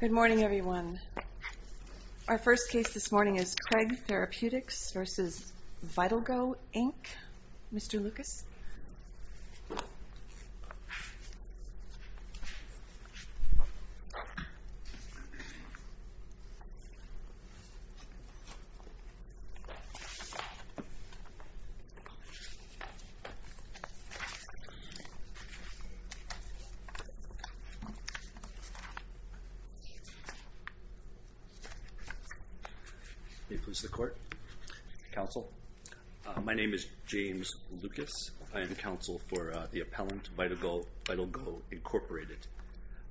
Good morning, everyone. Our first case this morning is Kreg Therapeutics v. VitalGo, Inc. Mr. Lucas? May it please the Court, Counsel? My name is James Lucas. I am Counsel for the appellant, VitalGo, Inc.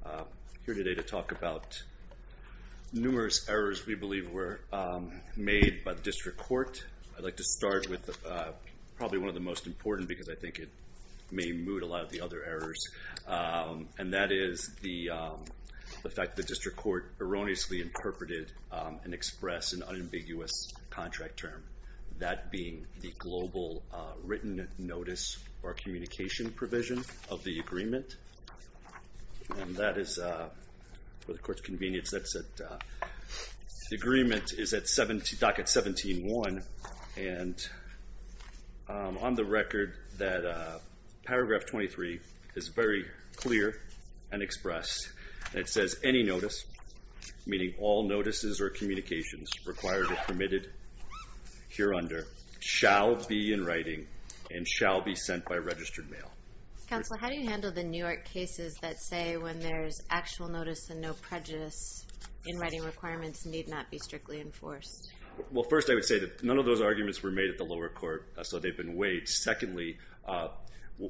I'm here today to talk about numerous errors we believe were made by the District Court. I'd like to start with probably one of the most important, because I think it may mood a lot of the other errors, and that is the fact the District Court erroneously interpreted and expressed an unambiguous contract term, that being the global written notice or communication provision of the agreement. And that is, for the Court's convenience, the agreement is at docket 17-1. And on the record, Paragraph 23 is very clear and expressed, and it says, Any notice, meaning all notices or communications required or permitted hereunder, shall be in writing and shall be sent by registered mail. Counsel, how do you handle the New York cases that say when there's actual notice and no prejudice in writing requirements need not be strictly enforced? Well, first, I would say that none of those arguments were made at the lower court, so they've been weighed. Secondly,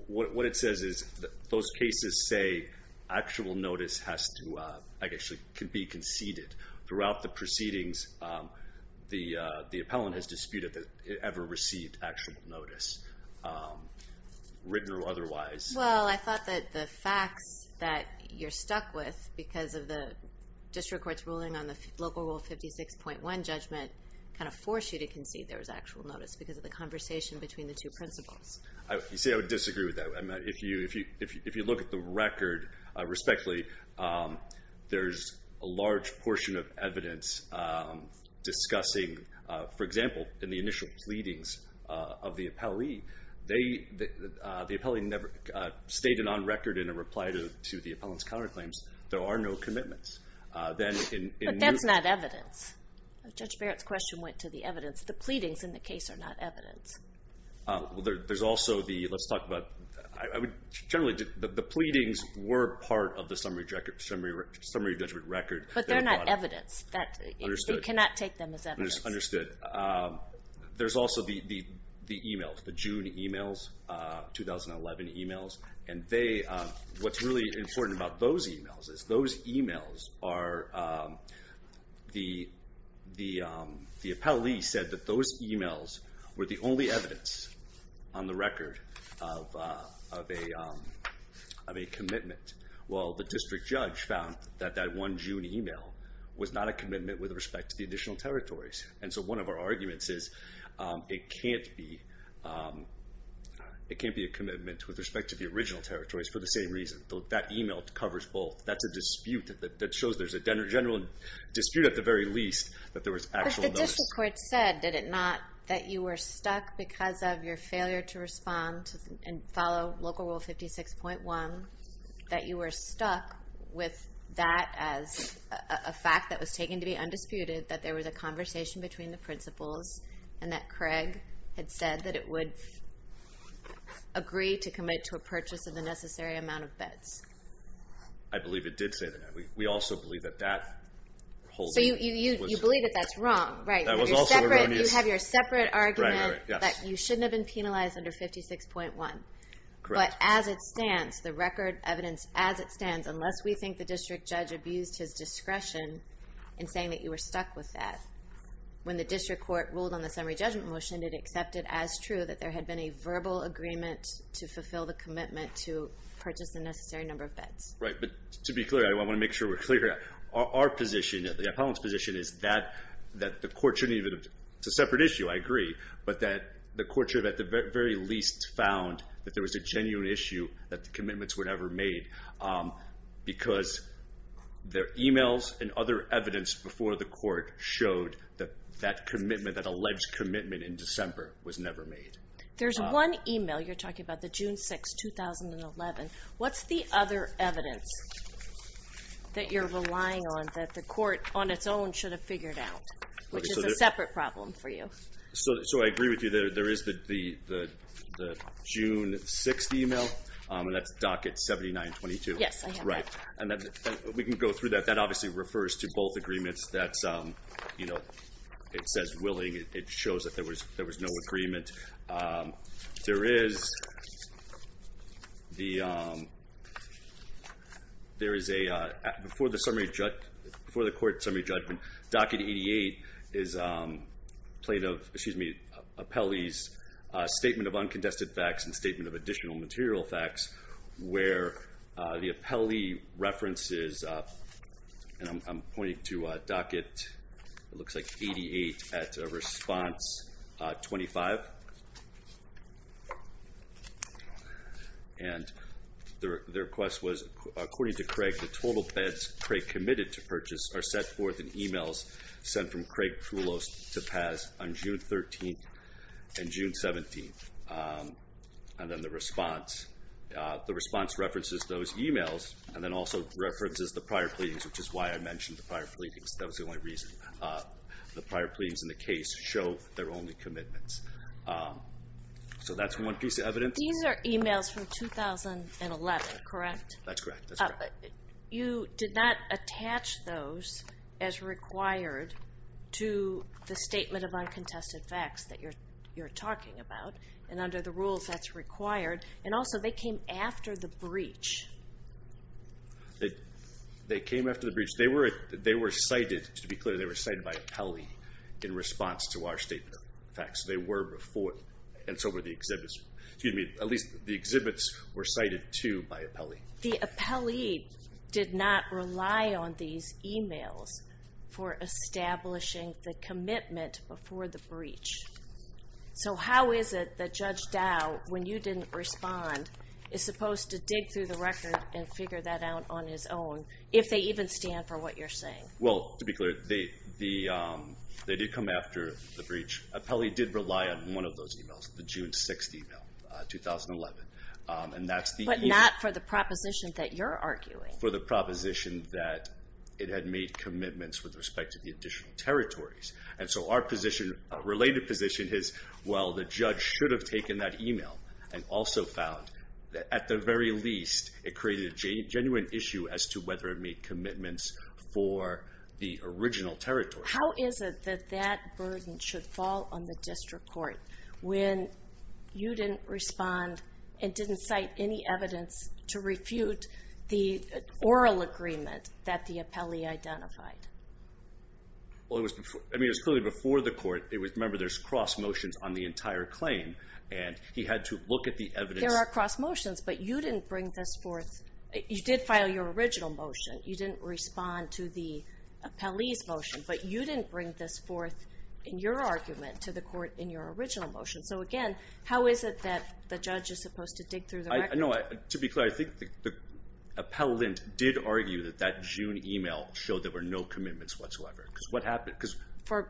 what it says is those cases say actual notice has to be conceded. Throughout the proceedings, the appellant has disputed that it ever received actual notice, written or otherwise. Well, I thought that the facts that you're stuck with, because of the district court's ruling on the Local Rule 56.1 judgment, kind of forced you to concede there was actual notice because of the conversation between the two principles. You see, I would disagree with that. If you look at the record respectfully, there's a large portion of evidence discussing, for example, in the initial pleadings of the appellee, the appellee never stated on record in a reply to the appellant's counterclaims, there are no commitments. But that's not evidence. Judge Barrett's question went to the evidence. The pleadings in the case are not evidence. Well, there's also the, let's talk about, generally, the pleadings were part of the summary judgment record. But they're not evidence. You cannot take them as evidence. Understood. There's also the e-mails, the June e-mails, 2011 e-mails. And what's really important about those e-mails is those e-mails are, the appellee said that those e-mails were the only evidence on the record of a commitment. Well, the district judge found that that one June e-mail was not a commitment with respect to the additional territories. And so one of our arguments is it can't be a commitment with respect to the original territories for the same reason. That e-mail covers both. That's a dispute that shows there's a general dispute at the very least that there was actual evidence. But the district court said, did it not, that you were stuck because of your failure to respond and follow Local Rule 56.1, that you were stuck with that as a fact that was taken to be undisputed, that there was a conversation between the principals, and that Craig had said that it would agree to commit to a purchase of the necessary amount of beds? I believe it did say that. We also believe that that holding was... So you believe that that's wrong, right? That was also erroneous. You have your separate argument that you shouldn't have been penalized under 56.1. Correct. But as it stands, the record evidence as it stands, unless we think the district judge abused his discretion in saying that you were stuck with that, when the district court ruled on the summary judgment motion, it accepted as true that there had been a verbal agreement to fulfill the commitment to purchase the necessary number of beds. Right. But to be clear, I want to make sure we're clear, our position, the appellant's position is that the court shouldn't even... It's a separate issue, I agree, but that the court should have at the very least found that there was a genuine issue that the commitments were never made. Because their emails and other evidence before the court showed that that commitment, that alleged commitment in December was never made. There's one email you're talking about, the June 6, 2011. What's the other evidence that you're relying on that the court on its own should have figured out, which is a separate problem for you? So I agree with you, there is the June 6 email, and that's docket 7922. Yes, I have that. Right. And we can go through that. That obviously refers to both agreements. That's, you know, it says willing, it shows that there was no agreement. There is a, before the court summary judgment, docket 88 is plaintiff, excuse me, appellee's statement of uncontested facts and statement of additional material facts, where the appellee references, and I'm pointing to docket, it looks like 88 at response 25. And the request was, according to Craig, the total bids Craig committed to purchase are set forth in emails sent from Craig Krulos to Paz on June 13th and June 17th. And then the response, the response references those emails, and then also references the prior pleadings, which is why I mentioned the prior pleadings. That was the only reason. The prior pleadings in the case show their only commitments. So that's one piece of evidence. These are emails from 2011, correct? That's correct. You did not attach those as required to the statement of uncontested facts that you're talking about, and under the rules that's required. And also they came after the breach. They came after the breach. They were cited, to be clear, they were cited by appellee in response to our statement of facts. They were before, and so were the exhibits. Excuse me, at least the exhibits were cited too by appellee. The appellee did not rely on these emails for establishing the commitment before the breach. So how is it that Judge Dow, when you didn't respond, is supposed to dig through the record and figure that out on his own, if they even stand for what you're saying? Well, to be clear, they did come after the breach. Appellee did rely on one of those emails, the June 6th email, 2011. But not for the proposition that you're arguing. For the proposition that it had made commitments with respect to the additional territories. And so our related position is, well, the judge should have taken that email and also found that at the very least it created a genuine issue as to whether it made commitments for the original territory. How is it that that burden should fall on the district court when you didn't respond and didn't cite any evidence to refute the oral agreement that the appellee identified? Well, it was clearly before the court. Remember, there's cross motions on the entire claim. And he had to look at the evidence. There are cross motions, but you didn't bring this forth. You did file your original motion. You didn't respond to the appellee's motion. But you didn't bring this forth in your argument to the court in your original motion. So again, how is it that the judge is supposed to dig through the record? To be clear, I think the appellant did argue that that June email showed there were no commitments whatsoever. Because what happened? For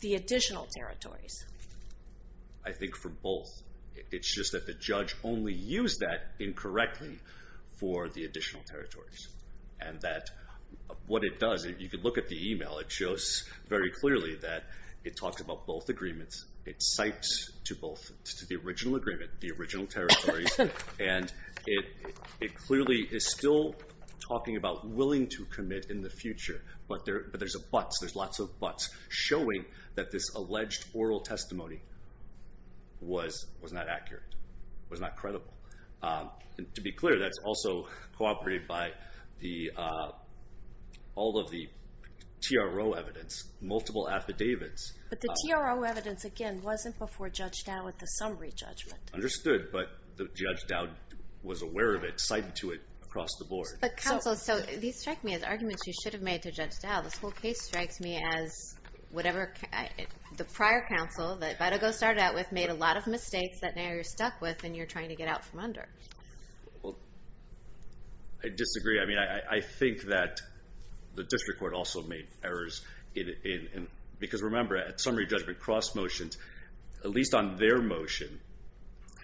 the additional territories. I think for both. It's just that the judge only used that incorrectly for the additional territories. And that what it does, if you could look at the email, it shows very clearly that it talks about both agreements. It cites to both, to the original agreement, the original territories. And it clearly is still talking about willing to commit in the future. But there's a but. There's lots of buts showing that this alleged oral testimony was not accurate, was not credible. And to be clear, that's also cooperated by all of the TRO evidence, multiple affidavits. But the TRO evidence, again, wasn't before Judge Dowd with the summary judgment. Understood. But Judge Dowd was aware of it, cited to it across the board. But counsel, so these strike me as arguments you should have made to Judge Dowd. This whole case strikes me as whatever the prior counsel, that if I had to go start out with, then you're trying to get out from under. Well, I disagree. I mean, I think that the district court also made errors. Because remember, at summary judgment cross motions, at least on their motion,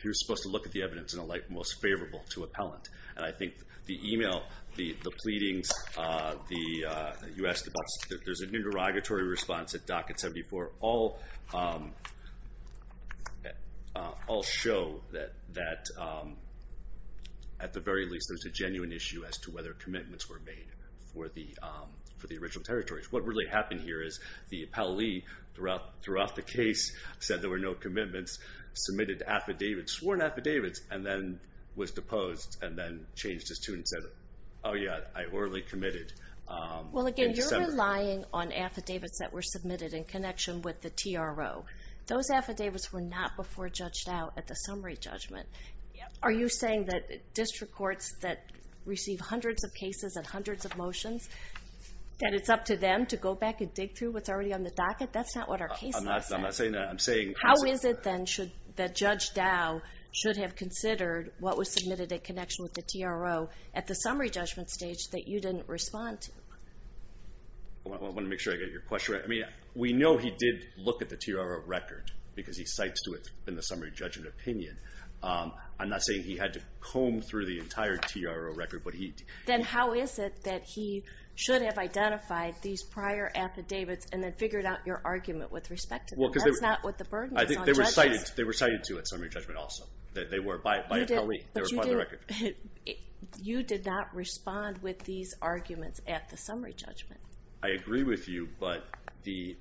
you're supposed to look at the evidence in a light most favorable to appellant. And I think the email, the pleadings, you asked about, there's a new derogatory response at Docket 74. All show that, at the very least, there's a genuine issue as to whether commitments were made for the original territories. What really happened here is the appellee, throughout the case, said there were no commitments, submitted affidavits, sworn affidavits, and then was deposed, and then changed his tune and said, oh yeah, I orally committed in December. You're relying on affidavits that were submitted in connection with the TRO. Those affidavits were not before Judge Dowd at the summary judgment. Are you saying that district courts that receive hundreds of cases and hundreds of motions, that it's up to them to go back and dig through what's already on the docket? That's not what our case says. I'm not saying that. How is it, then, that Judge Dowd should have considered what was submitted in connection with the TRO at the summary judgment stage that you didn't respond to? I want to make sure I get your question right. We know he did look at the TRO record because he cites to it in the summary judgment opinion. I'm not saying he had to comb through the entire TRO record. Then how is it that he should have identified these prior affidavits and then figured out your argument with respect to them? That's not what the burden is on judges. They were cited to at summary judgment also. They were by a colleague. They were part of the record. You did not respond with these arguments at the summary judgment. I agree with you, but the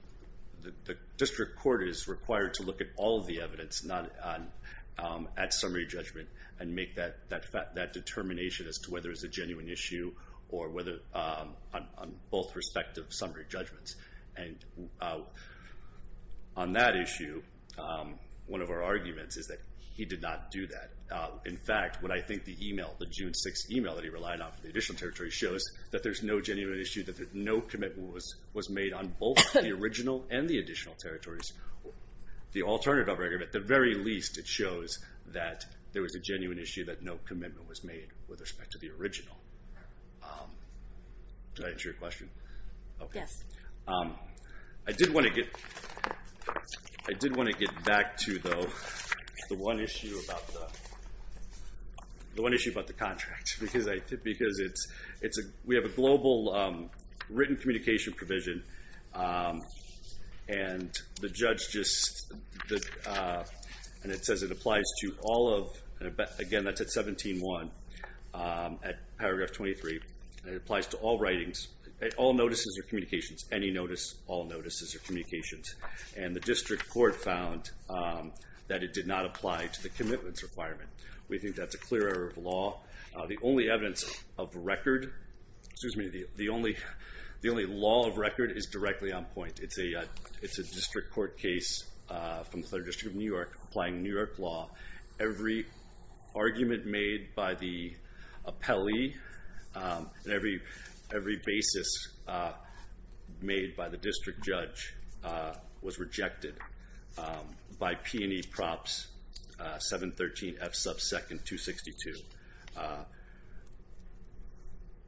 district court is required to look at all of the evidence at summary judgment and make that determination as to whether it's a genuine issue or whether on both respective summary judgments. On that issue, one of our arguments is that he did not do that. In fact, what I think the June 6th email that he relied on for the additional territory shows, that there's no genuine issue, that no commitment was made on both the original and the additional territories. The alternative argument, at the very least, it shows that there was a genuine issue, that no commitment was made with respect to the original. Did I answer your question? Yes. I did want to get back to the one issue about the contract, because we have a global written communication provision, and it says it applies to all of, again, that's at 17.1, at paragraph 23. It applies to all writings, all notices or communications, any notice, all notices or communications. And the district court found that it did not apply to the commitments requirement. We think that's a clear error of law. The only evidence of record, excuse me, the only law of record is directly on point. It's a district court case from the 3rd District of New York applying New York law. Every argument made by the appellee and every basis made by the district judge was rejected by P&E Props 713F sub 2nd, 262.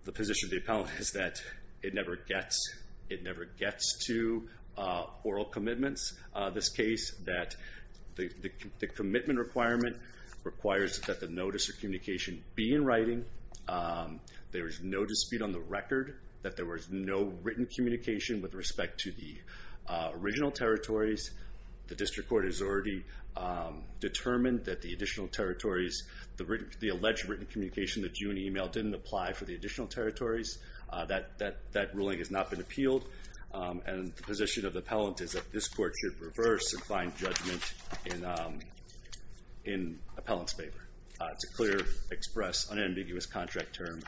The position of the appellant is that it never gets to oral commitments. This case that the commitment requirement requires that the notice or communication be in writing. There is no dispute on the record that there was no written communication with respect to the original territories. The district court has already determined that the additional territories, the alleged written communication that you e-mailed didn't apply for the additional territories. That ruling has not been appealed. And the position of the appellant is that this court should reverse and find judgment in appellant's favor. It's a clear, express, unambiguous contract term.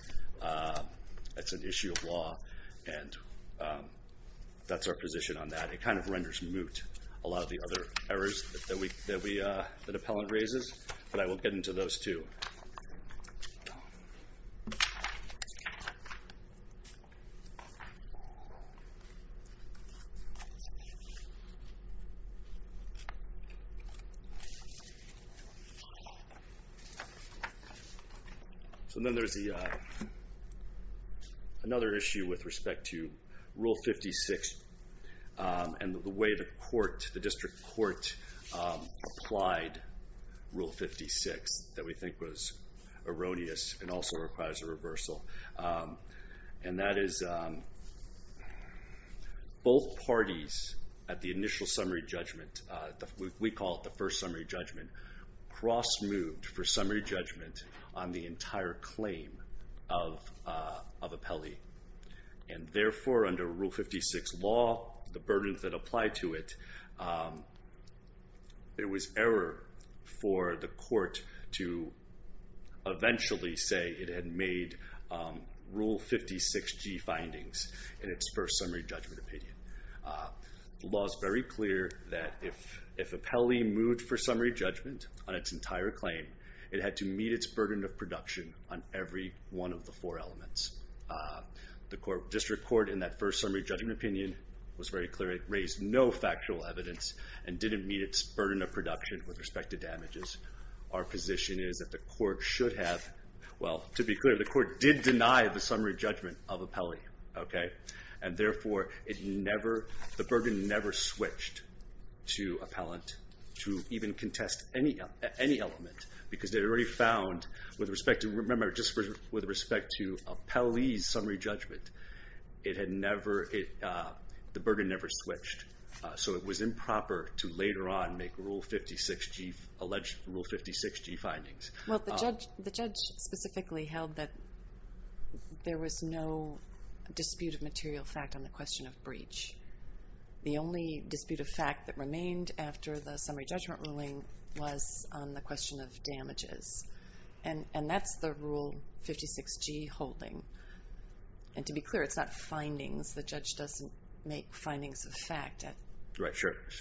It's an issue of law, and that's our position on that. It kind of renders moot a lot of the other errors that an appellant raises, but I will get into those too. So then there's another issue with respect to Rule 56 and the way the district court applied Rule 56 that we think was erroneous and that is both parties at the initial summary judgment, we call it the first summary judgment, cross-moved for summary judgment on the entire claim of appellee. And therefore under Rule 56 law, the burdens that apply to it, it was error for the court to eventually say it had made Rule 56G findings in its first summary judgment opinion. The law is very clear that if appellee moved for summary judgment on its entire claim, it had to meet its burden of production on every one of the four elements. The district court in that first summary judgment opinion was very clear. It raised no factual evidence and didn't meet its burden of production with respect to damages. Our position is that the court should have, well to be clear, the court did deny the summary judgment of appellee. And therefore the burden never switched to appellant to even contest any element because they already found with respect to, remember just with respect to appellee's summary judgment, it had never, the burden never switched. So it was improper to later on make Rule 56G, alleged Rule 56G findings. Well the judge specifically held that there was no dispute of material fact on the question of breach. The only dispute of fact that remained after the summary judgment ruling was on the question of damages. And that's the Rule 56G holding. And to be clear, it's not findings. The judge doesn't make findings of fact at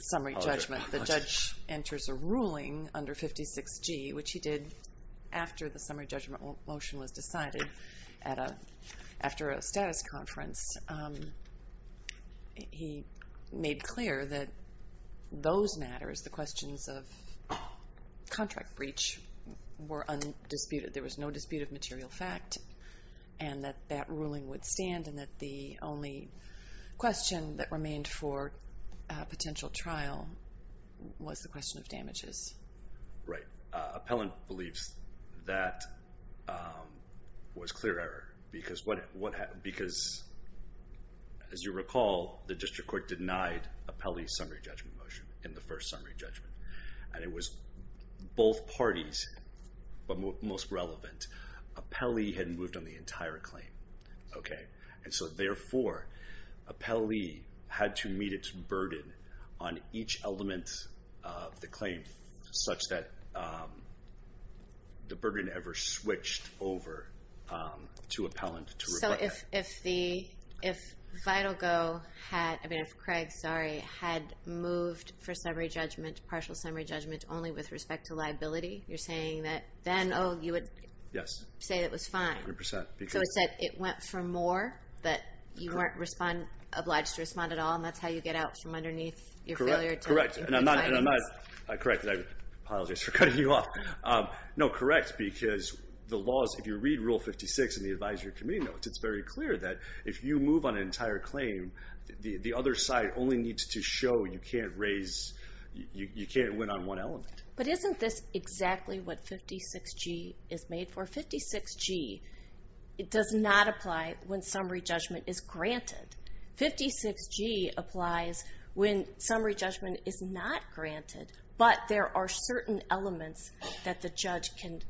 summary judgment. The judge enters a ruling under 56G, which he did after the summary judgment motion was decided after a status conference. He made clear that those matters, the questions of contract breach, were undisputed. That there was no dispute of material fact and that that ruling would stand and that the only question that remained for potential trial was the question of damages. Right. Appellant believes that was clear error because as you recall, the district court denied appellee's summary judgment motion in the first summary judgment. And it was both parties, but most relevant. Appellee had moved on the entire claim. And so therefore, appellee had to meet its burden on each element of the claim such that the burden never switched over to appellant to rebut that. If Vital Go had, I mean if Craig, sorry, had moved for summary judgment, partial summary judgment only with respect to liability, you're saying that then, oh, you would say it was fine. 100%. So it's that it went for more, that you weren't obliged to respond at all, and that's how you get out from underneath your failure to make findings. Correct. And I'm not correct. I apologize for cutting you off. No, correct, because the laws, if you read Rule 56 in the advisory committee notes, it's very clear that if you move on an entire claim, the other side only needs to show you can't raise, you can't win on one element. But isn't this exactly what 56G is made for? 56G does not apply when summary judgment is granted. 56G applies when summary judgment is not granted, but there are certain elements that the judge can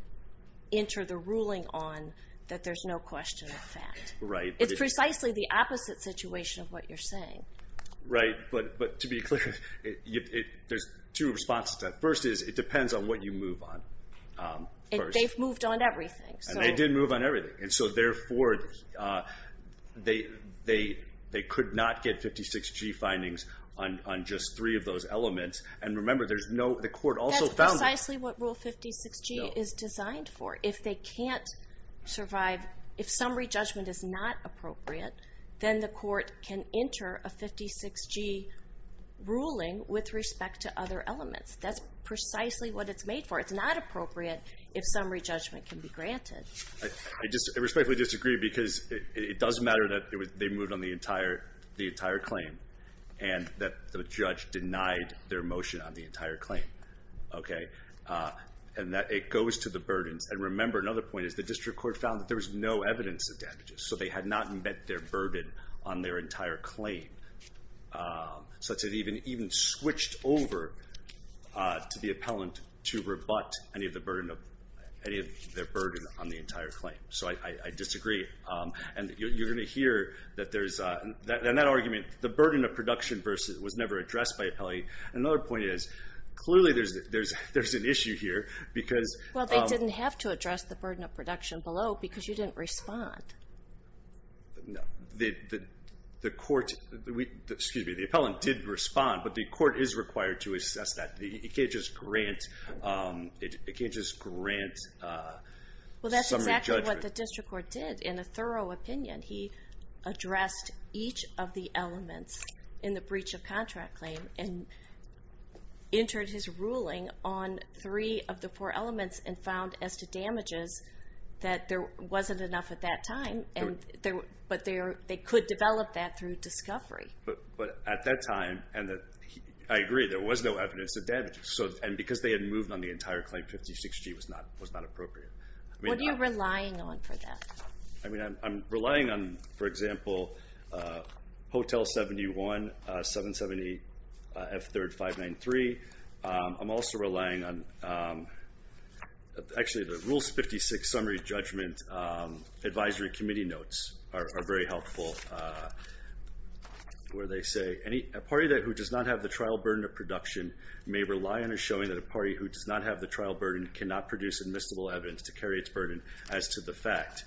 enter the ruling on that there's no question of that. Right. It's precisely the opposite situation of what you're saying. Right, but to be clear, there's two responses to that. First is it depends on what you move on. They've moved on everything. And they did move on everything, and so therefore they could not get 56G findings on just three of those elements. And remember, there's no, the court also found that. That's precisely what Rule 56G is designed for. If they can't survive, if summary judgment is not appropriate, then the court can enter a 56G ruling with respect to other elements. That's precisely what it's made for. It's not appropriate if summary judgment can be granted. I respectfully disagree because it does matter that they moved on the entire claim and that the judge denied their motion on the entire claim. And that it goes to the burdens. And remember, another point is the district court found that there was no evidence of damages, so they had not met their burden on their entire claim. So it even switched over to the appellant to rebut any of their burden on the entire claim. So I disagree. And you're going to hear that there's, in that argument, the burden of production was never addressed by appellate. Another point is, clearly there's an issue here because... Well, they didn't have to address the burden of production below because you didn't respond. No. The court, excuse me, the appellant did respond, but the court is required to assess that. It can't just grant summary judgment. Well, that's exactly what the district court did. In a thorough opinion, he addressed each of the elements in the breach of contract claim and entered his ruling on three of the four elements and found as to damages that there wasn't enough at that time. But they could develop that through discovery. But at that time, I agree, there was no evidence of damages. And because they had moved on the entire claim, 56G was not appropriate. What are you relying on for that? I'm relying on, for example, Hotel 71, 770 F3rd 593. I'm also relying on... Actually, the Rules 56 Summary Judgment Advisory Committee notes are very helpful, where they say, a party who does not have the trial burden of production may rely on a showing that a party who does not have the trial burden cannot produce admissible evidence to carry its burden as to the fact.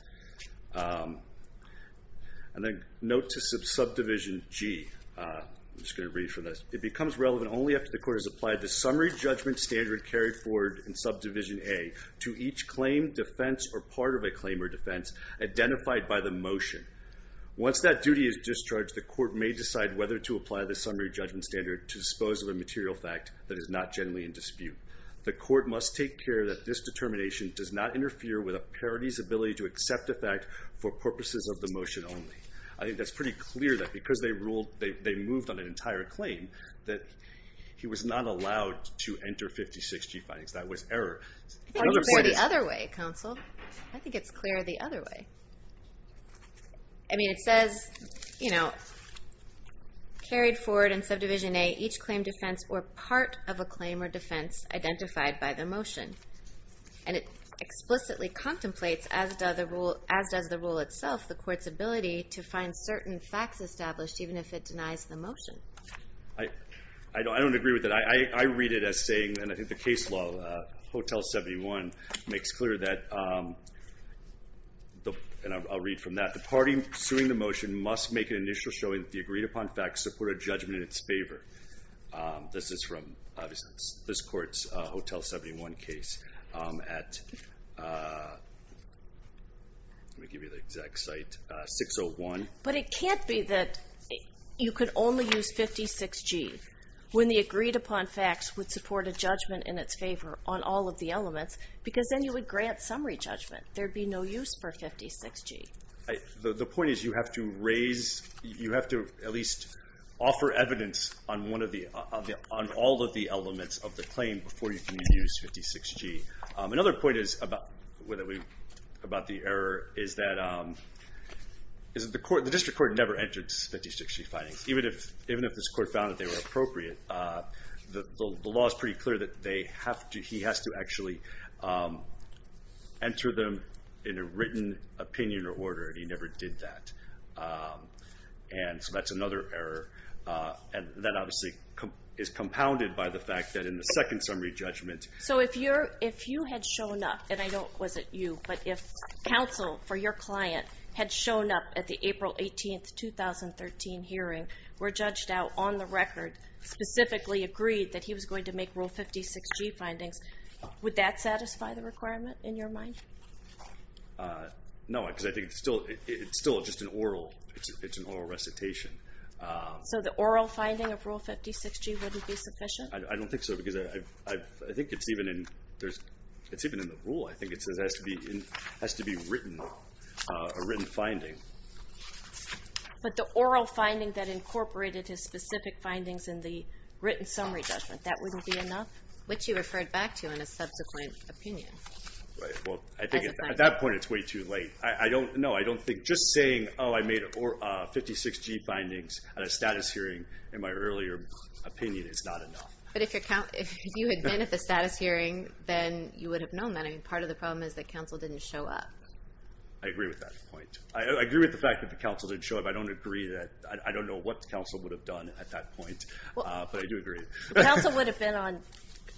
And then note to Subdivision G. I'm just going to read from this. It becomes relevant only after the court has applied the summary judgment standard carried forward in Subdivision A to each claim, defense, or part of a claim or defense identified by the motion. Once that duty is discharged, the court may decide whether to apply the summary judgment standard to dispose of a material fact that is not generally in dispute. The court must take care that this determination does not interfere with a party's ability to accept a fact for purposes of the motion only. I think that's pretty clear that because they moved on an entire claim that he was not allowed to enter 56 G findings. That was error. I think it's more the other way, counsel. I think it's clearer the other way. I mean, it says, you know, carried forward in Subdivision A, each claim, defense, or part of a claim or defense identified by the motion. And it explicitly contemplates, as does the rule itself, the court's ability to find certain facts established even if it denies the motion. I don't agree with that. I read it as saying, and I think the case law, Hotel 71, makes clear that, and I'll read from that, the party suing the motion must make an initial showing that the agreed-upon facts support a judgment in its favor. This is from, obviously, this court's Hotel 71 case at 601. But it can't be that you could only use 56 G when the agreed-upon facts would support a judgment in its favor on all of the elements, because then you would grant summary judgment. There would be no use for 56 G. The point is you have to raise, you have to at least offer evidence on all of the elements of the claim before you can use 56 G. Another point about the error is that the district court never entered 56 G findings, even if this court found that they were appropriate. The law is pretty clear that he has to actually enter them in a written opinion or order, and he never did that. So that's another error, and that obviously is compounded by the fact that in the second summary judgment... So if you had shown up, and I know it wasn't you, but if counsel for your client had shown up at the April 18, 2013 hearing, were judged out on the record, specifically agreed that he was going to make Rule 56 G findings, would that satisfy the requirement in your mind? No, because I think it's still just an oral recitation. So the oral finding of Rule 56 G wouldn't be sufficient? I don't think so, because I think it's even in the rule. I think it says it has to be a written finding. But the oral finding that incorporated his specific findings in the written summary judgment, that wouldn't be enough? Which you referred back to in a subsequent opinion. Well, I think at that point it's way too late. No, I don't think just saying, oh, I made 56 G findings at a status hearing, in my earlier opinion, is not enough. But if you had been at the status hearing, then you would have known that. Part of the problem is that counsel didn't show up. I agree with that point. I agree with the fact that the counsel didn't show up. I don't know what counsel would have done at that point, but I do agree. The counsel would have been on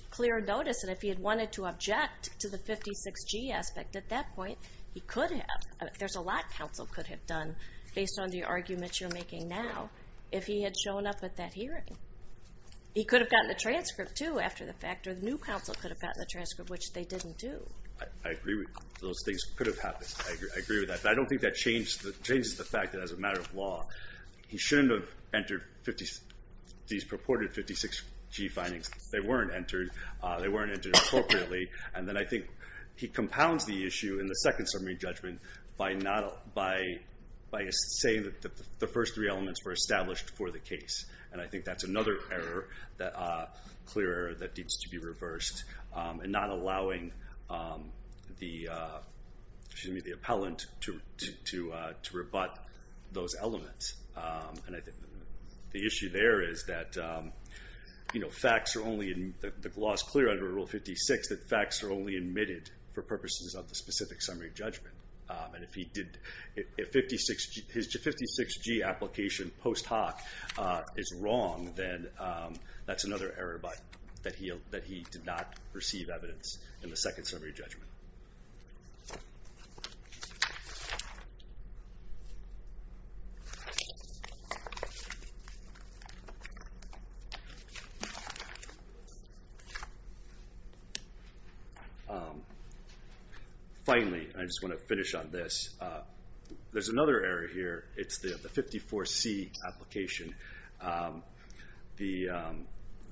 clear notice, and if he had wanted to object to the 56 G aspect at that point, he could have. There's a lot counsel could have done, based on the arguments you're making now, if he had shown up at that hearing. He could have gotten the transcript, too, after the fact, or the new counsel could have gotten the transcript, which they didn't do. I agree with those things could have happened. I agree with that, but I don't think that changes the fact that as a matter of law, he shouldn't have entered these purported 56 G findings. They weren't entered appropriately. And then I think he compounds the issue in the second summary judgment by saying that the first three elements were established for the case. And I think that's another clear error that needs to be reversed, and not allowing the appellant to rebut those elements. The issue there is that the law is clear under Rule 56 that facts are only admitted for purposes of the specific summary judgment. And if his 56 G application post hoc is wrong, then that's another error that he did not receive evidence in the second summary judgment. Thank you. Finally, I just want to finish on this. There's another error here. It's the 54 C application. The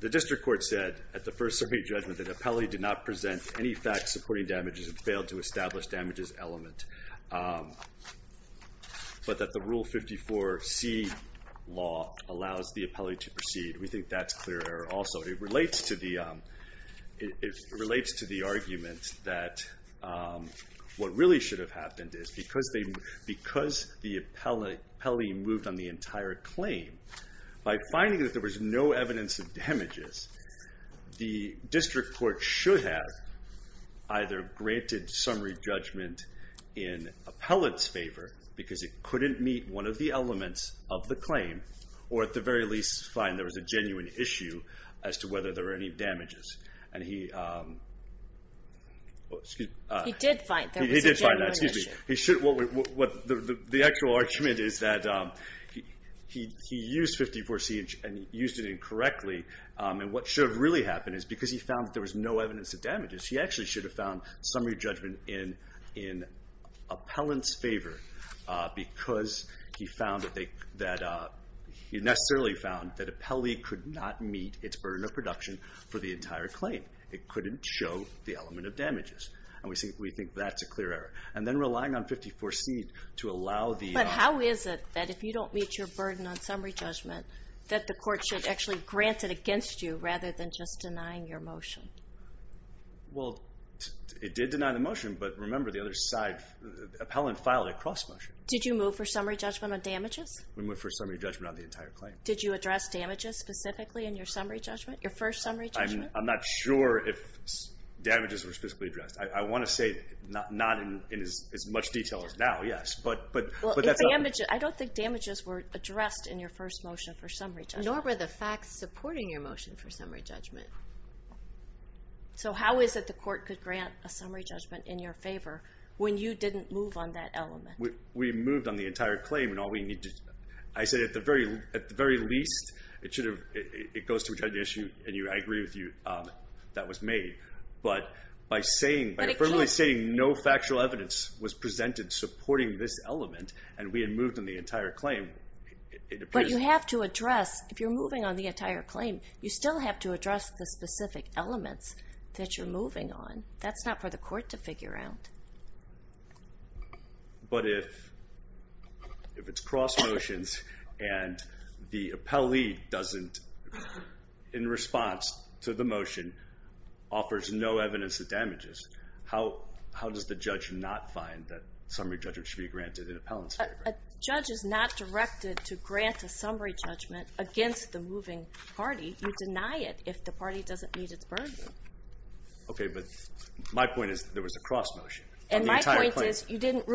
district court said at the first summary judgment that appellee did not present any facts supporting damages and failed to establish damages element. But that the Rule 54 C law allows the appellee to proceed. We think that's clear error also. It relates to the argument that what really should have happened is because the appellee moved on the entire claim, by finding that there was no evidence of damages, the district court should have either granted summary judgment in appellant's favor because it couldn't meet one of the elements of the claim, or at the very least find there was a genuine issue as to whether there were any damages. And he did find that. The actual argument is that he used 54 C and used it incorrectly. And what should have really happened is because he found that there was no evidence of damages, he actually should have found summary judgment in appellant's favor because he necessarily found that appellee could not meet its burden of production for the entire claim. It couldn't show the element of damages. And we think that's a clear error. And then relying on 54 C to allow the... But how is it that if you don't meet your burden on summary judgment that the court should actually grant it against you rather than just denying your motion? Well, it did deny the motion. But remember the other side, appellant filed a cross motion. Did you move for summary judgment on damages? We moved for summary judgment on the entire claim. Did you address damages specifically in your summary judgment, your first summary judgment? I'm not sure if damages were specifically addressed. I want to say not in as much detail as now, yes. I don't think damages were addressed in your first motion for summary judgment. Nor were the facts supporting your motion for summary judgment. So how is it the court could grant a summary judgment in your favor when you didn't move on that element? We moved on the entire claim and all we need to... I said at the very least, it goes to which had the issue, and I agree with you, that was made. But by saying, by affirmably saying no factual evidence was presented supporting this element, and we had moved on the entire claim, it appears... But you have to address, if you're moving on the entire claim, you still have to address the specific elements that you're moving on. That's not for the court to figure out. But if it's cross motions and the appellee doesn't, in response to the motion, offers no evidence of damages, how does the judge not find that summary judgment should be granted in appellant's favor? A judge is not directed to grant a summary judgment against the moving party. You deny it if the party doesn't meet its burden. Okay, but my point is there was a cross motion. And my point is you didn't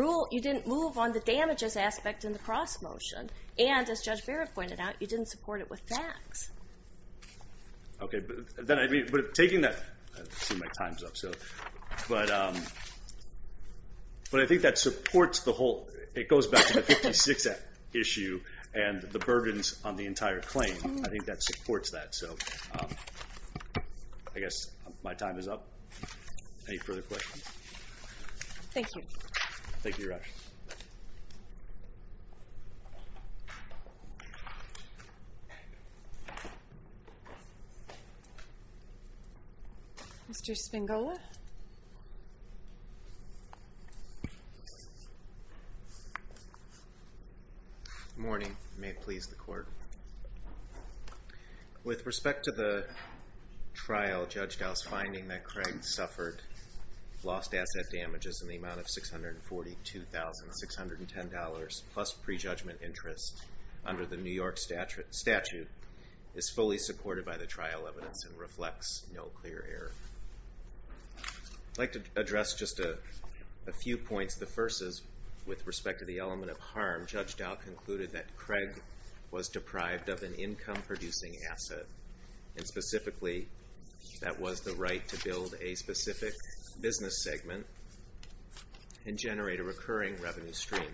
move on the damages aspect in the cross motion, and as Judge Barrett pointed out, you didn't support it with facts. Okay, but taking that... I see my time's up, but I think that supports the whole... It goes back to the 56 Act issue and the burdens on the entire claim. I think that supports that. I guess my time is up. Any further questions? Thank you. Thank you, Your Honor. Mr. Spangola? Good morning. May it please the Court. With respect to the trial, Judge Dow's finding that Craig suffered lost asset damages in the amount of $642,610 plus prejudgment interest under the New York statute is fully supported by the trial evidence and reflects no clear error. I'd like to address just a few points. The first is with respect to the element of harm, Judge Dow concluded that Craig was deprived of an income-producing asset, and specifically that was the right to build a specific business segment and generate a recurring revenue stream.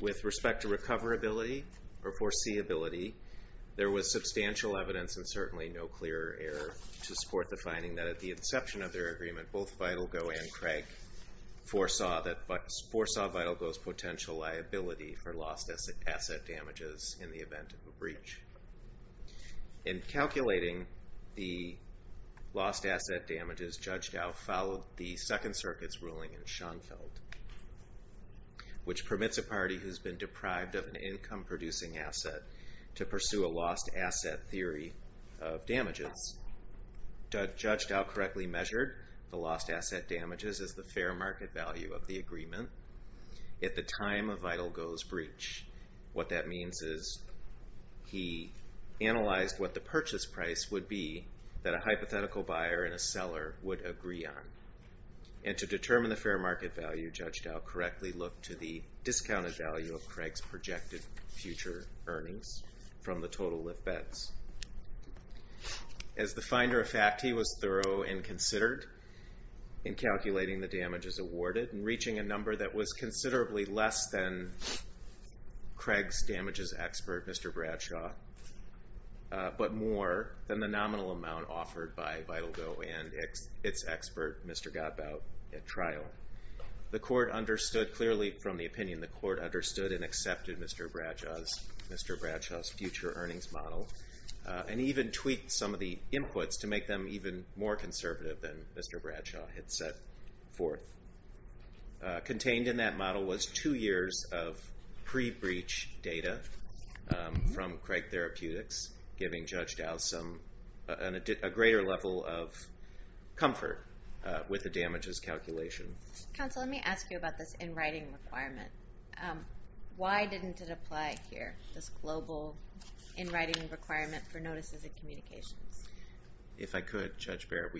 With respect to recoverability or foreseeability, there was substantial evidence and certainly no clear error to support the finding that at the inception of their agreement, both Vitalgo and Craig foresaw Vitalgo's potential liability for lost asset damages in the event of a breach. In calculating the lost asset damages, Judge Dow followed the Second Circuit's ruling in Schoenfeld, which permits a party who's been deprived of an income-producing asset to pursue a lost asset theory of damages. Judge Dow correctly measured the lost asset damages as the fair market value of the agreement. At the time of Vitalgo's breach, what that means is he analyzed what the purchase price would be that a hypothetical buyer and a seller would agree on. And to determine the fair market value, Judge Dow correctly looked to the discounted value of Craig's projected future earnings from the total lift bets. As the finder of fact, he was thorough and considered in calculating the damages awarded and reaching a number that was considerably less than Craig's damages expert, Mr. Bradshaw, but more than the nominal amount offered by Vitalgo and its expert, Mr. Gottbaut, at trial. The court understood clearly from the opinion the court understood and accepted Mr. Bradshaw's future earnings model and even tweaked some of the inputs to make them even more conservative than Mr. Bradshaw had set forth. Contained in that model was two years of pre-breach data from Craig Therapeutics, giving Judge Dow a greater level of comfort with the damages calculation. Counsel, let me ask you about this in-writing requirement. Why didn't it apply here, this global in-writing requirement for notices and communications? If I could, Judge Barrett,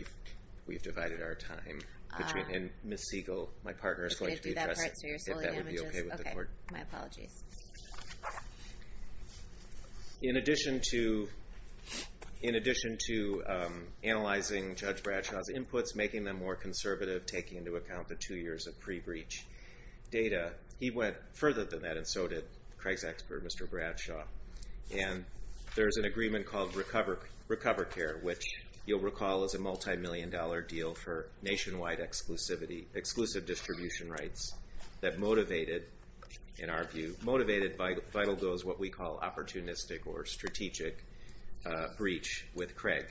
we've divided our time. And Ms. Siegel, my partner, is going to be addressing if that would be okay with the court. Okay, my apologies. In addition to analyzing Judge Bradshaw's inputs, making them more conservative, taking into account the two years of pre-breach data, he went further than that, and so did Craig's expert, Mr. Bradshaw. And there's an agreement called RecoverCare, which you'll recall is a multimillion-dollar deal for nationwide exclusivity, exclusive distribution rights, that motivated, in our view, motivated Vitalgo's what we call opportunistic or strategic breach with Craig.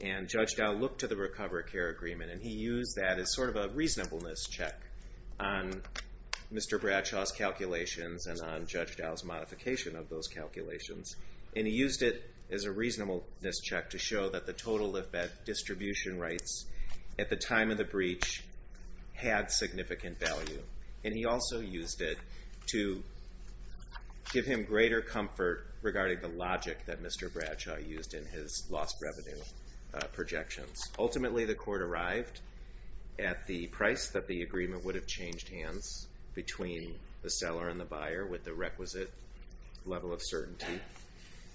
And Judge Dow looked to the RecoverCare agreement, and he used that as sort of a reasonableness check on Mr. Bradshaw's calculations and on Judge Dow's modification of those calculations. And he used it as a reasonableness check to show that the total distribution rights at the time of the breach had significant value. And he also used it to give him greater comfort regarding the logic that Mr. Bradshaw used in his lost revenue projections. Ultimately, the court arrived at the price that the agreement would have changed hands between the seller and the buyer with the requisite level of certainty.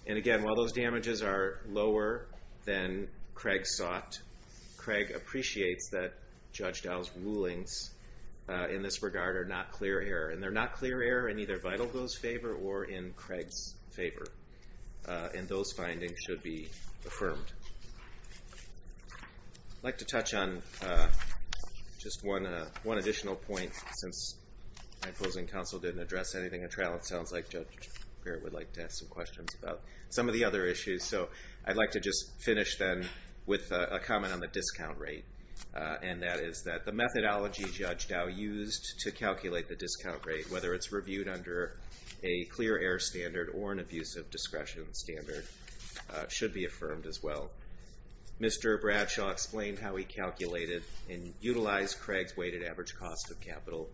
And again, while those damages are lower than Craig sought, Craig appreciates that Judge Dow's rulings in this regard are not clear error, and they're not clear error in either Vitalgo's favor or in Craig's favor. And those findings should be affirmed. I'd like to touch on just one additional point since my opposing counsel didn't address anything in trial. It sounds like Judge Barrett would like to ask some questions about some of the other issues. So I'd like to just finish then with a comment on the discount rate, and that is that the methodology Judge Dow used to calculate the discount rate, whether it's reviewed under a clear error standard or an abusive discretion standard, should be affirmed as well. Mr. Bradshaw explained how he calculated and utilized Craig's weighted average cost of capital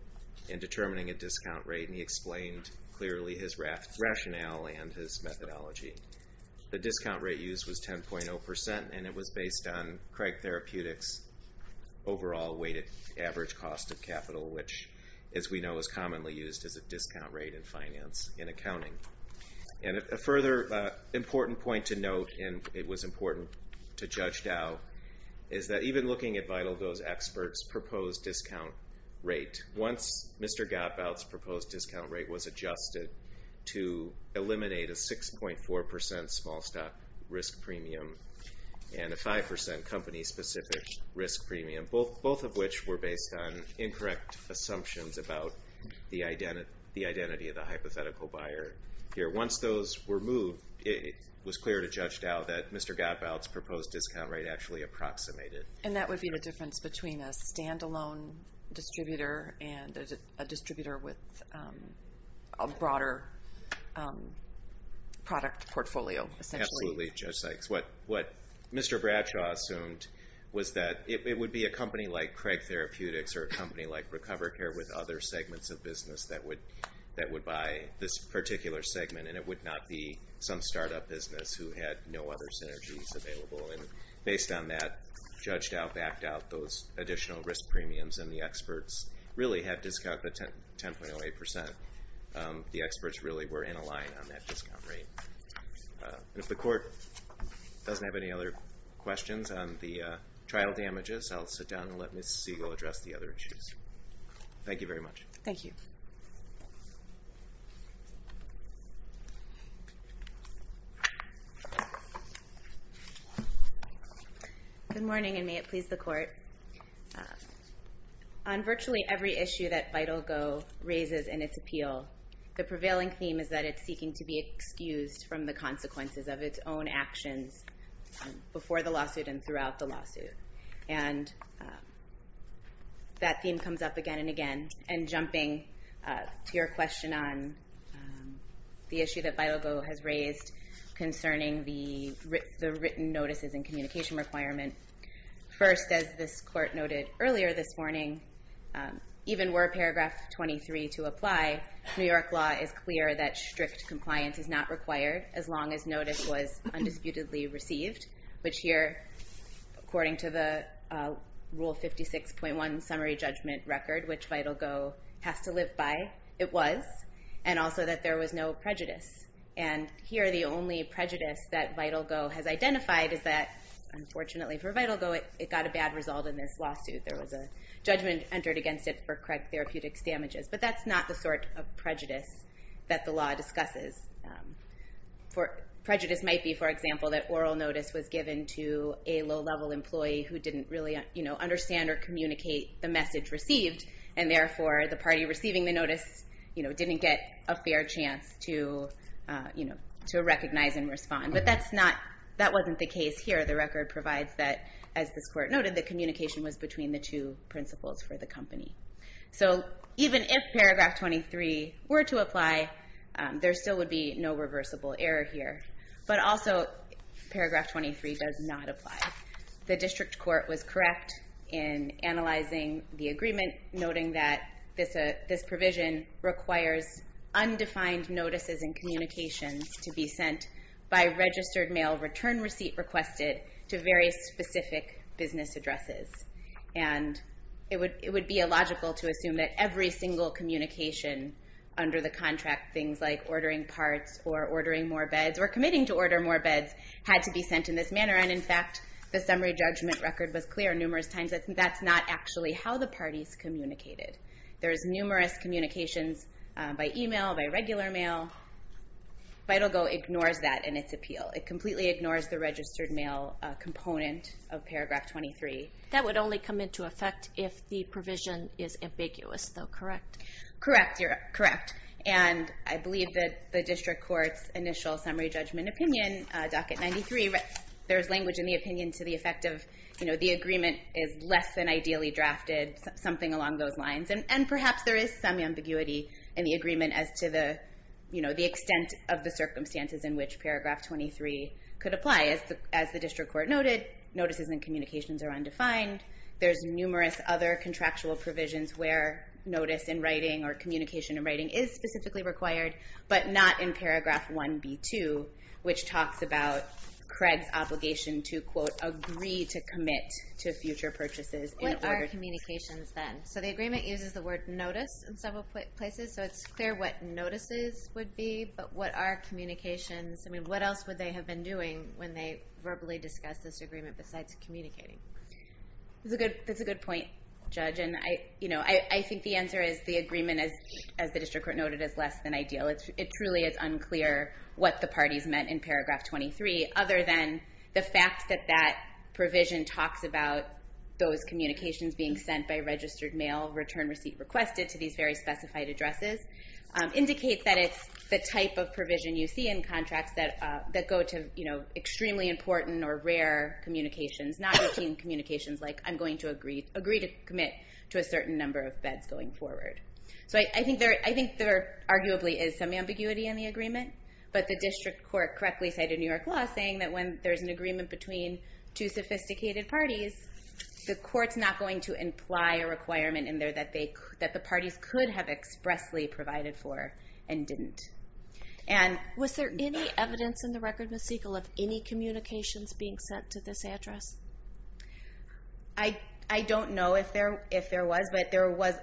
in determining a discount rate, and he explained clearly his rationale and his methodology. The discount rate used was 10.0%, and it was based on Craig Therapeutics' overall weighted average cost of capital, which, as we know, is commonly used as a discount rate in finance, in accounting. And a further important point to note, and it was important to Judge Dow, is that even looking at Vitalgo's experts' proposed discount rate, once Mr. Gottbaud's proposed discount rate was adjusted to eliminate a 6.4% small-stock risk premium and a 5% company-specific risk premium, both of which were based on incorrect assumptions about the identity of the hypothetical buyer. Once those were moved, it was clear to Judge Dow that Mr. Gottbaud's proposed discount rate actually approximated. And that would be the difference between a standalone distributor and a distributor with a broader product portfolio, essentially. Absolutely, Judge Sykes. What Mr. Bradshaw assumed was that it would be a company like Craig Therapeutics or a company like RecoverCare with other segments of business that would buy this particular segment, and it would not be some startup business who had no other synergies available. And based on that, Judge Dow backed out those additional risk premiums, and the experts really had discounted the 10.08%. The experts really were in a line on that discount rate. If the Court doesn't have any other questions on the trial damages, I'll sit down and let Ms. Siegel address the other issues. Thank you very much. Thank you. Good morning, and may it please the Court. On virtually every issue that Vital Go raises in its appeal, the prevailing theme is that it's seeking to be excused from the consequences of its own actions before the lawsuit and throughout the lawsuit. And that theme comes up again and again. And jumping to your question on the issue that Vital Go has raised concerning the written notices and communication requirement, first, as this Court noted earlier this morning, even were Paragraph 23 to apply, New York law is clear that strict compliance is not required as long as notice was undisputedly received, which here, according to the Rule 56.1 summary judgment record, which Vital Go has to live by, it was, and also that there was no prejudice. And here the only prejudice that Vital Go has identified is that, unfortunately for Vital Go, it got a bad result in this lawsuit. There was a judgment entered against it for correct therapeutics damages. But that's not the sort of prejudice that the law discusses. Prejudice might be, for example, that oral notice was given to a low-level employee who didn't really understand or communicate the message received, and therefore the party receiving the notice didn't get a fair chance to recognize and respond. But that wasn't the case here. The record provides that, as this Court noted, the communication was between the two principals for the company. So even if Paragraph 23 were to apply, there still would be no reversible error here. But also Paragraph 23 does not apply. The District Court was correct in analyzing the agreement, noting that this provision requires undefined notices and communications to be sent by registered mail return receipt requested to very specific business addresses. And it would be illogical to assume that every single communication under the contract, things like ordering parts or ordering more beds or committing to order more beds, had to be sent in this manner. And in fact, the summary judgment record was clear numerous times that that's not actually how the parties communicated. There's numerous communications by email, by regular mail. FIDOGO ignores that in its appeal. It completely ignores the registered mail component of Paragraph 23. That would only come into effect if the provision is ambiguous, though, correct? Correct, correct. And I believe that the District Court's initial summary judgment opinion, Docket 93, there's language in the opinion to the effect of the agreement is less than ideally drafted, something along those lines. And perhaps there is some ambiguity in the agreement as to the extent of the circumstances in which Paragraph 23 could apply. As the District Court noted, notices and communications are undefined. There's numerous other contractual provisions where notice in writing or communication in writing is specifically required, but not in Paragraph 1B2, which talks about Craig's obligation to quote, agree to commit to future purchases in order to... What are communications, then? So the agreement uses the word notice in several places, so it's clear what notices would be, but what are communications? What else would they have been doing when they verbally discussed this agreement besides communicating? That's a good point, Judge. I think the answer is the agreement, as the District Court noted, is less than ideal. It truly is unclear what the parties meant in Paragraph 23, other than the fact that that provision talks about those communications being sent by registered mail, return receipt requested to these very specified addresses, indicates that it's the type of provision you see in contracts that go to extremely important or rare communications, not routine communications like, I'm going to agree to commit to a certain number of beds going forward. So I think there arguably is some ambiguity in the agreement, but the District Court correctly cited New York law saying that when there's an agreement between two sophisticated parties, the court's not going to imply a requirement in there that the parties could have expressly provided for and didn't. Was there any evidence in the record, Ms. Siegel, of any communications being sent to this address? I don't know if there was, but there was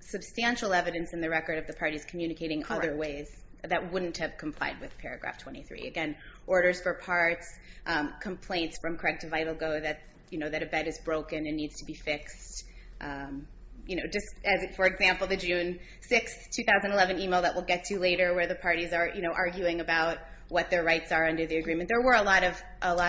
substantial evidence in the record of the parties communicating other ways that wouldn't have complied with Paragraph 23. Again, orders for parts, complaints from Craig to Vitalgo that a bed is broken and needs to be fixed. For example, the June 6, 2011 email that we'll get to later where the parties are arguing about what their rights are under the agreement. There were a lot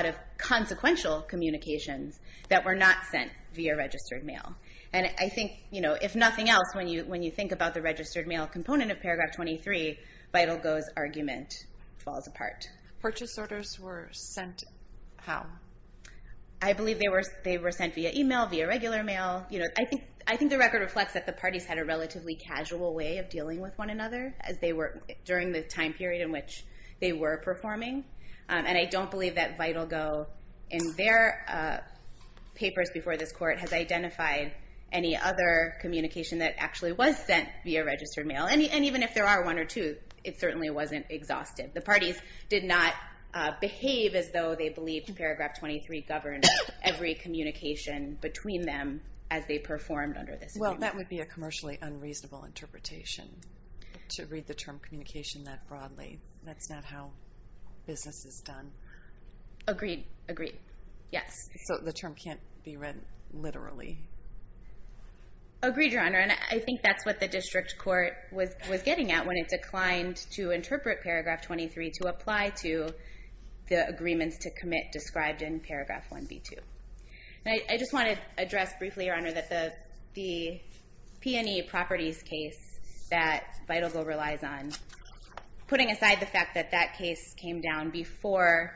of consequential communications that were not sent via registered mail. And I think, if nothing else, when you think about the registered mail component of Paragraph 23, Vitalgo's argument falls apart. Purchase orders were sent how? I believe they were sent via email, via regular mail. I think the record reflects that the parties had a relatively casual way of dealing with one another during the time period in which they were performing. And I don't believe that Vitalgo, in their papers before this court, has identified any other communication that actually was sent via registered mail. And even if there are one or two, it certainly wasn't exhausted. The parties did not behave as though they believed Paragraph 23 governed every communication between them as they performed under this agreement. And that would be a commercially unreasonable interpretation to read the term communication that broadly. That's not how business is done. Agreed. Agreed. Yes. So the term can't be read literally. Agreed, Your Honor. And I think that's what the district court was getting at when it declined to interpret Paragraph 23 to apply to the agreements to commit And I just want to address briefly, Your Honor, that the P&E properties case that Vitalgo relies on, putting aside the fact that that case came down before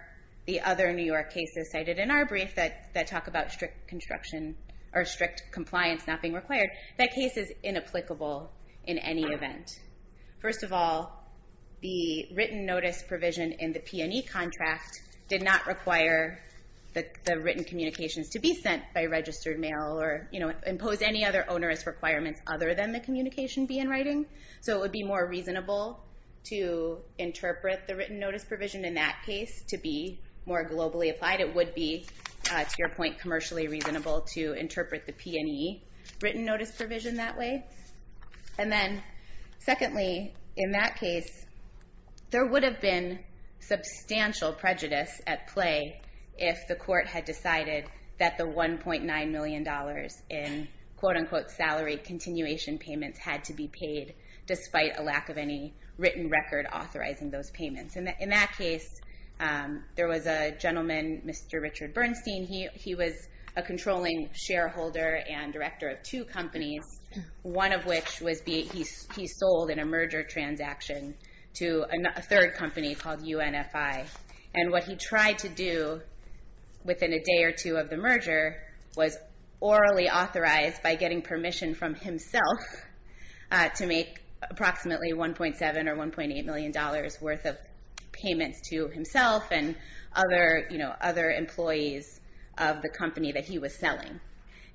the other New York cases cited in our brief that talk about strict construction or strict compliance not being required, that case is inapplicable in any event. First of all, the written notice provision in the P&E contract did not require the written communications to be sent by registered mail or impose any other onerous requirements other than the communication be in writing. So it would be more reasonable to interpret the written notice provision in that case to be more globally applied. It would be, to your point, commercially reasonable to interpret the P&E written notice provision that way. And then secondly, in that case, there would have been substantial prejudice at play if the court had decided that the $1.9 million in quote-unquote salary continuation payments had to be paid despite a lack of any written record authorizing those payments. In that case, there was a gentleman, Mr. Richard Bernstein, he was a controlling shareholder and director of two companies, one of which he sold in a merger transaction to a third company called UNFI. And what he tried to do within a day or two of the merger was orally authorize by getting permission from himself to make approximately $1.7 or $1.8 million worth of payments to himself and other employees of the company that he was selling.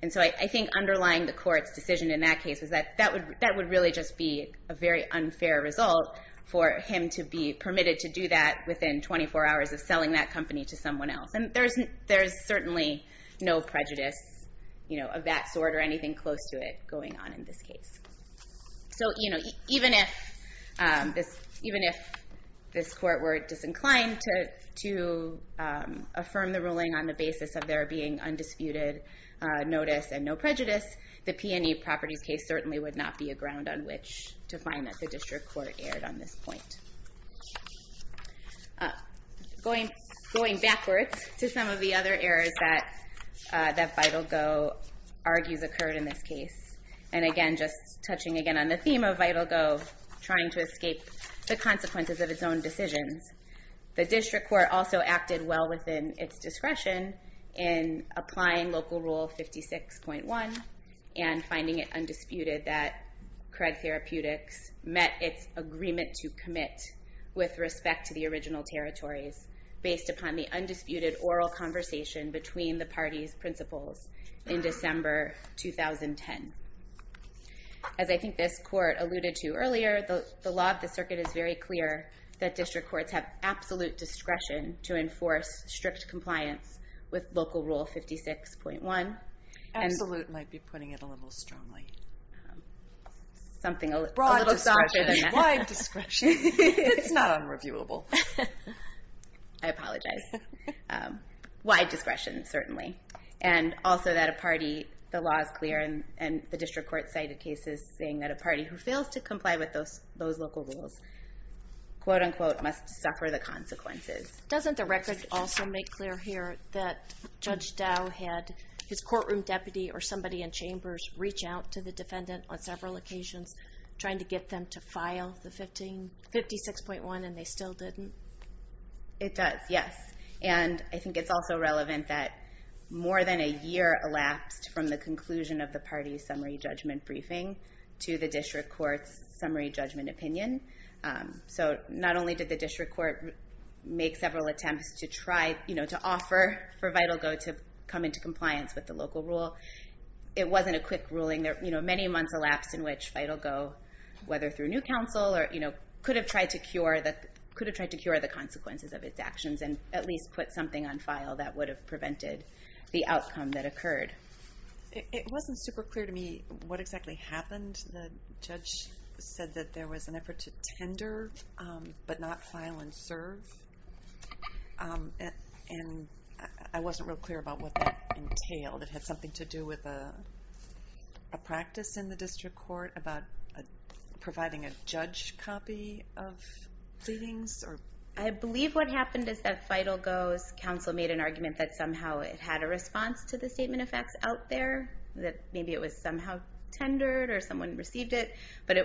And so I think underlying the court's decision in that case is that that would really just be a very unfair result for him to be permitted to do that within 24 hours of selling that company to someone else. And there's certainly no prejudice of that sort or anything close to it going on in this case. So even if this court were disinclined to affirm the ruling on the basis of there being undisputed notice and no prejudice, the P&E properties case certainly would not be a ground on which to find that the district court erred on this point. Going backwards to some of the other errors that VitalGo argues occurred in this case, and again just touching again on the theme of VitalGo trying to escape the consequences of its own decisions, the district court also acted well within its discretion in applying Local Rule 56.1 and finding it undisputed that Craig Therapeutics met its agreement to commit with respect to the original territories based upon the undisputed oral conversation between the parties' principals in December 2010. As I think this court alluded to earlier, the law of the circuit is very clear that district courts have absolute discretion to enforce strict compliance with Local Rule 56.1. Absolute might be putting it a little strongly. Something a little softer than that. Broad discretion. Wide discretion. It's not unreviewable. I apologize. Wide discretion, certainly. And also that a party, the law is clear, and the district court cited cases saying that a party who fails to comply with those local rules, quote-unquote, must suffer the consequences. Doesn't the record also make clear here that Judge Dow had his courtroom deputy or somebody in chambers reach out to the defendant on several occasions trying to get them to file the 56.1, and they still didn't? It does, yes. And I think it's also relevant that more than a year elapsed from the conclusion of the party's summary judgment briefing to the district court's summary judgment opinion. So not only did the district court make several attempts to try, you know, to offer for VitalGo to come into compliance with the local rule, it wasn't a quick ruling. Many months elapsed in which VitalGo, whether through new counsel or, you know, could have tried to cure the consequences of its actions and at least put something on file that would have prevented the outcome that occurred. It wasn't super clear to me what exactly happened. The judge said that there was an effort to tender but not file and serve. And I wasn't real clear about what that entailed. It had something to do with a practice in the district court about providing a judge copy of pleadings? I believe what happened is that VitalGo's counsel made an argument that somehow it had a response to the statement of facts out there, that maybe it was somehow tendered or someone received it. But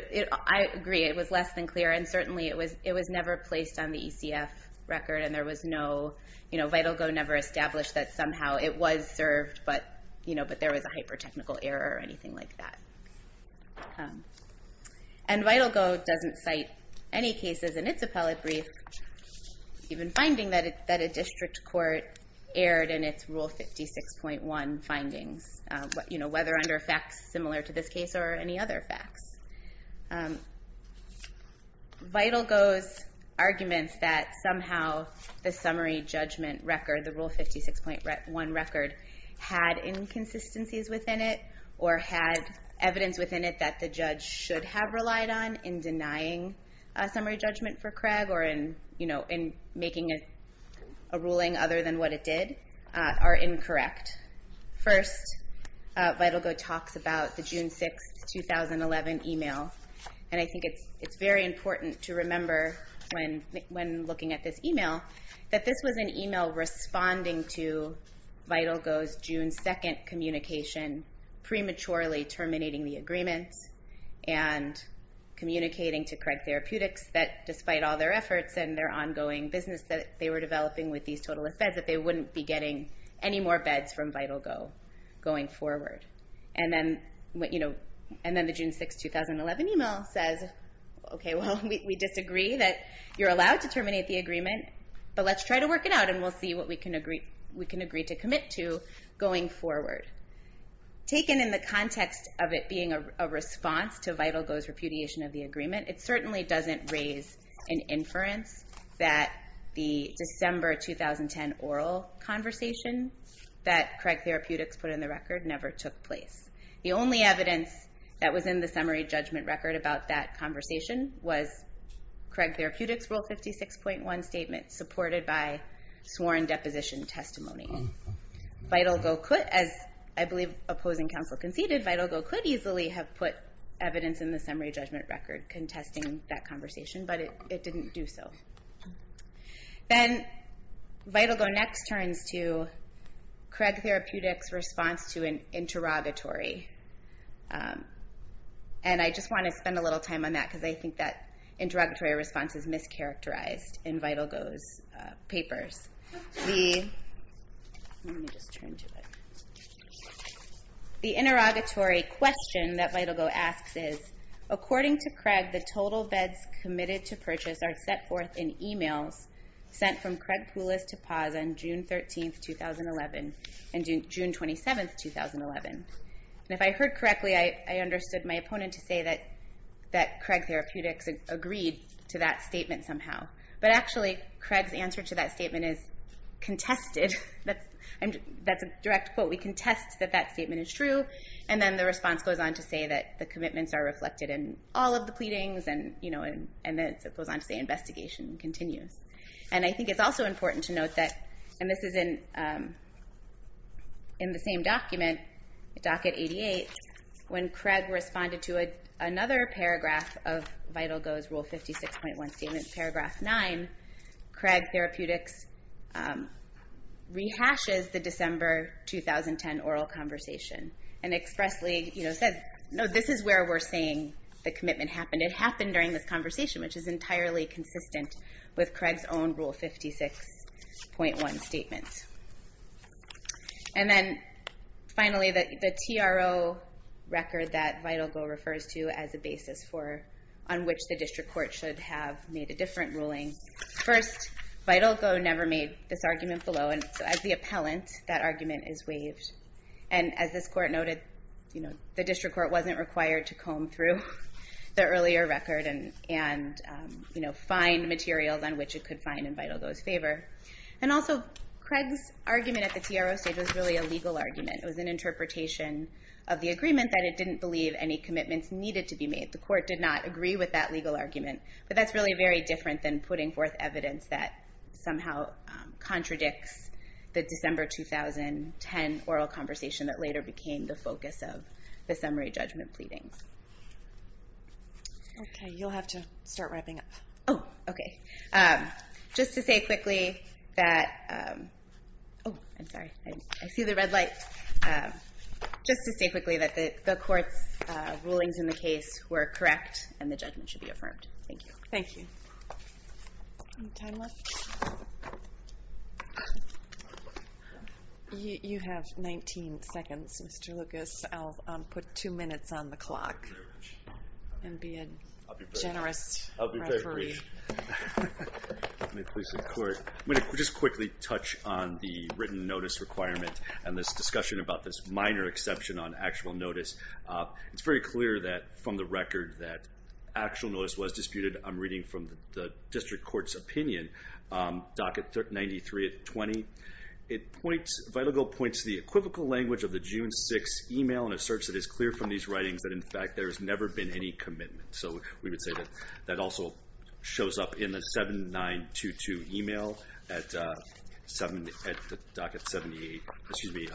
I agree, it was less than clear and certainly it was never placed on the ECF record and there was no, you know, VitalGo never established that somehow it was served but there was a hyper-technical error or anything like that. And VitalGo doesn't cite any cases in its appellate brief, even finding that a district court erred in its Rule 56.1 findings, whether under facts similar to this case or any other facts. VitalGo's arguments that somehow the summary judgment record, the Rule 56.1 record, had inconsistencies within it or had evidence within it that the judge should have relied on in denying a summary judgment for Craig or in making a ruling other than what it did are incorrect. First, VitalGo talks about the June 6th, 2011 email and I think it's very important to remember when looking at this email, that this was an email responding to VitalGo's June 2nd communication, prematurely terminating the agreement and communicating to Craig Therapeutics that despite all their efforts and their ongoing business that they were developing with these totalists beds, that they wouldn't be getting any more beds from VitalGo going forward. And then the June 6th, 2011 email says, okay, well, we disagree that you're allowed to terminate the agreement, but let's try to work it out and we'll see what we can agree to commit to going forward. Taken in the context of it being a response to VitalGo's repudiation of the agreement, it certainly doesn't raise an inference that the December 2010 oral conversation that Craig Therapeutics put in the record never took place. The only evidence that was in the summary judgment record about that conversation was Craig Therapeutics' Rule 56.1 statement supported by sworn deposition testimony. VitalGo could, as I believe opposing counsel conceded, VitalGo could easily have put evidence in the summary judgment record contesting that conversation, but it didn't do so. Then VitalGo next turns to Craig Therapeutics' response to an interrogatory. And I just want to spend a little time on that because I think that interrogatory response is mischaracterized in VitalGo's papers. Let me just turn to it. The interrogatory question that VitalGo asks is, according to Craig, the total beds committed to purchase are set forth in emails sent from Craig Poulos to Paz on June 13, 2011 and June 27, 2011. And if I heard correctly, I understood my opponent to say that Craig Therapeutics agreed to that statement somehow. But actually, Craig's answer to that statement is contested. That's a direct quote. We contest that that statement is true, and then the response goes on to say that the commitments are reflected in all of the pleadings, and then it goes on to say investigation continues. And I think it's also important to note that, and this is in the same document, docket 88, when Craig responded to another paragraph of VitalGo's Rule 56.1 statement, paragraph 9, Craig Therapeutics rehashes the December 2010 oral conversation and expressly said, no, this is where we're saying the commitment happened. It happened during this conversation, which is entirely consistent with Craig's own Rule 56.1 statement. And then finally, the TRO record that VitalGo refers to as a basis on which the district court should have made a different ruling. First, VitalGo never made this argument below, and so as the appellant, that argument is waived. And as this court noted, the district court wasn't required to comb through the earlier record and find materials on which it could find in VitalGo's favor. And also, Craig's argument at the TRO stage was really a legal argument. It was an interpretation of the agreement that it didn't believe any commitments needed to be made. The court did not agree with that legal argument, but that's really very different than putting forth evidence that somehow contradicts the December 2010 oral conversation that later became the focus of the summary judgment pleadings. Okay, you'll have to start wrapping up. Oh, okay. Just to say quickly that... Oh, I'm sorry, I see the red light. Just to say quickly that the court's rulings in the case were correct and the judgment should be affirmed. Thank you. Thank you. Any time left? You have 19 seconds, Mr. Lucas. I'll put two minutes on the clock and be a generous referee. I'll be very brief. I'm going to just quickly touch on the written notice requirement and this discussion about this minor exception on actual notice. It's very clear from the record that actual notice was disputed. I'm reading from the district court's opinion, Docket 93-20. Vital Goal points to the equivocal language of the June 6 email and asserts it is clear from these writings that, in fact, there has never been any commitment. So we would say that that also shows up in the 7922 email at Docket 78. Excuse me,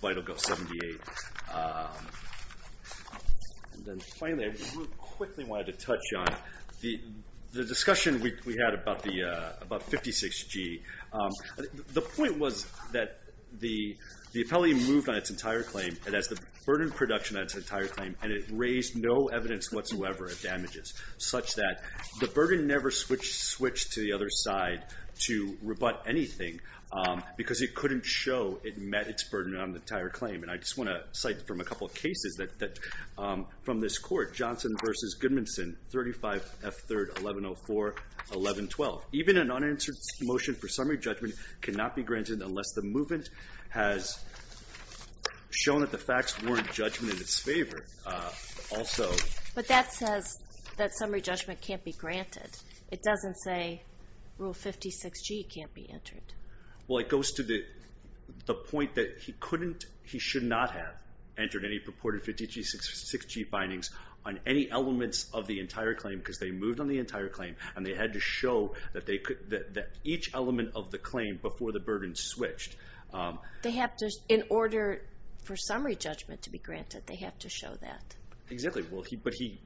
Vital Goal 78. And then finally, I really quickly wanted to touch on the discussion we had about 56G. The point was that the appellee moved on its entire claim and has the burden of production on its entire claim and it raised no evidence whatsoever of damages, such that the burden never switched to the other side to rebut anything because it couldn't show it met its burden on the entire claim. And I just want to cite from a couple of cases from this court, Johnson v. Goodmanson, 35F3-1104-1112. Even an unanswered motion for summary judgment cannot be granted unless the movement has shown that the facts warrant judgment in its favor. But that says that summary judgment can't be granted. It doesn't say Rule 56G can't be entered. Well, it goes to the point that he couldn't, he should not have entered any purported 56G bindings on any elements of the entire claim because they moved on the entire claim and they had to show that each element of the claim before the burden switched. They have to, in order for summary judgment to be granted, they have to show that. Exactly,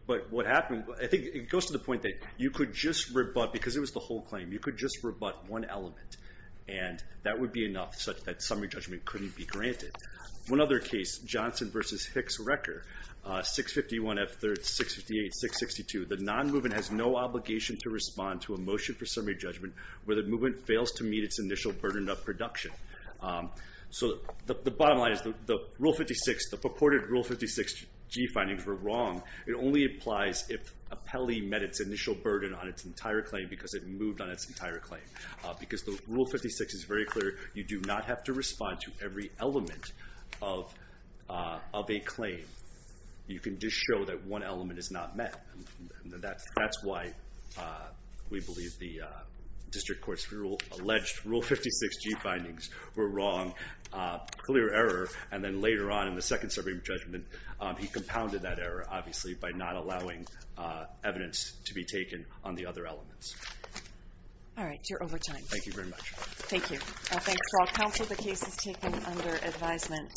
but what happened, I think it goes to the point that you could just rebut, because it was the whole claim, you could just rebut one element and that would be enough such that summary judgment couldn't be granted. One other case, Johnson v. Hicks-Recker, 651F3-658-662. The non-movement has no obligation to respond to a motion for summary judgment where the movement fails to meet its initial burden of production. So the bottom line is the purported Rule 56G findings were wrong. It only applies if a penalty met its initial burden on its entire claim because it moved on its entire claim. Because the Rule 56 is very clear, you do not have to respond to every element of a claim. You can just show that one element is not met. That's why we believe the district court's alleged Rule 56G findings were wrong. Clear error, and then later on in the second summary judgment, he compounded that error, obviously, by not allowing evidence to be taken on the other elements. All right, you're over time. Thank you very much. Thank you. Thanks for all counsel. The case is taken under advisement.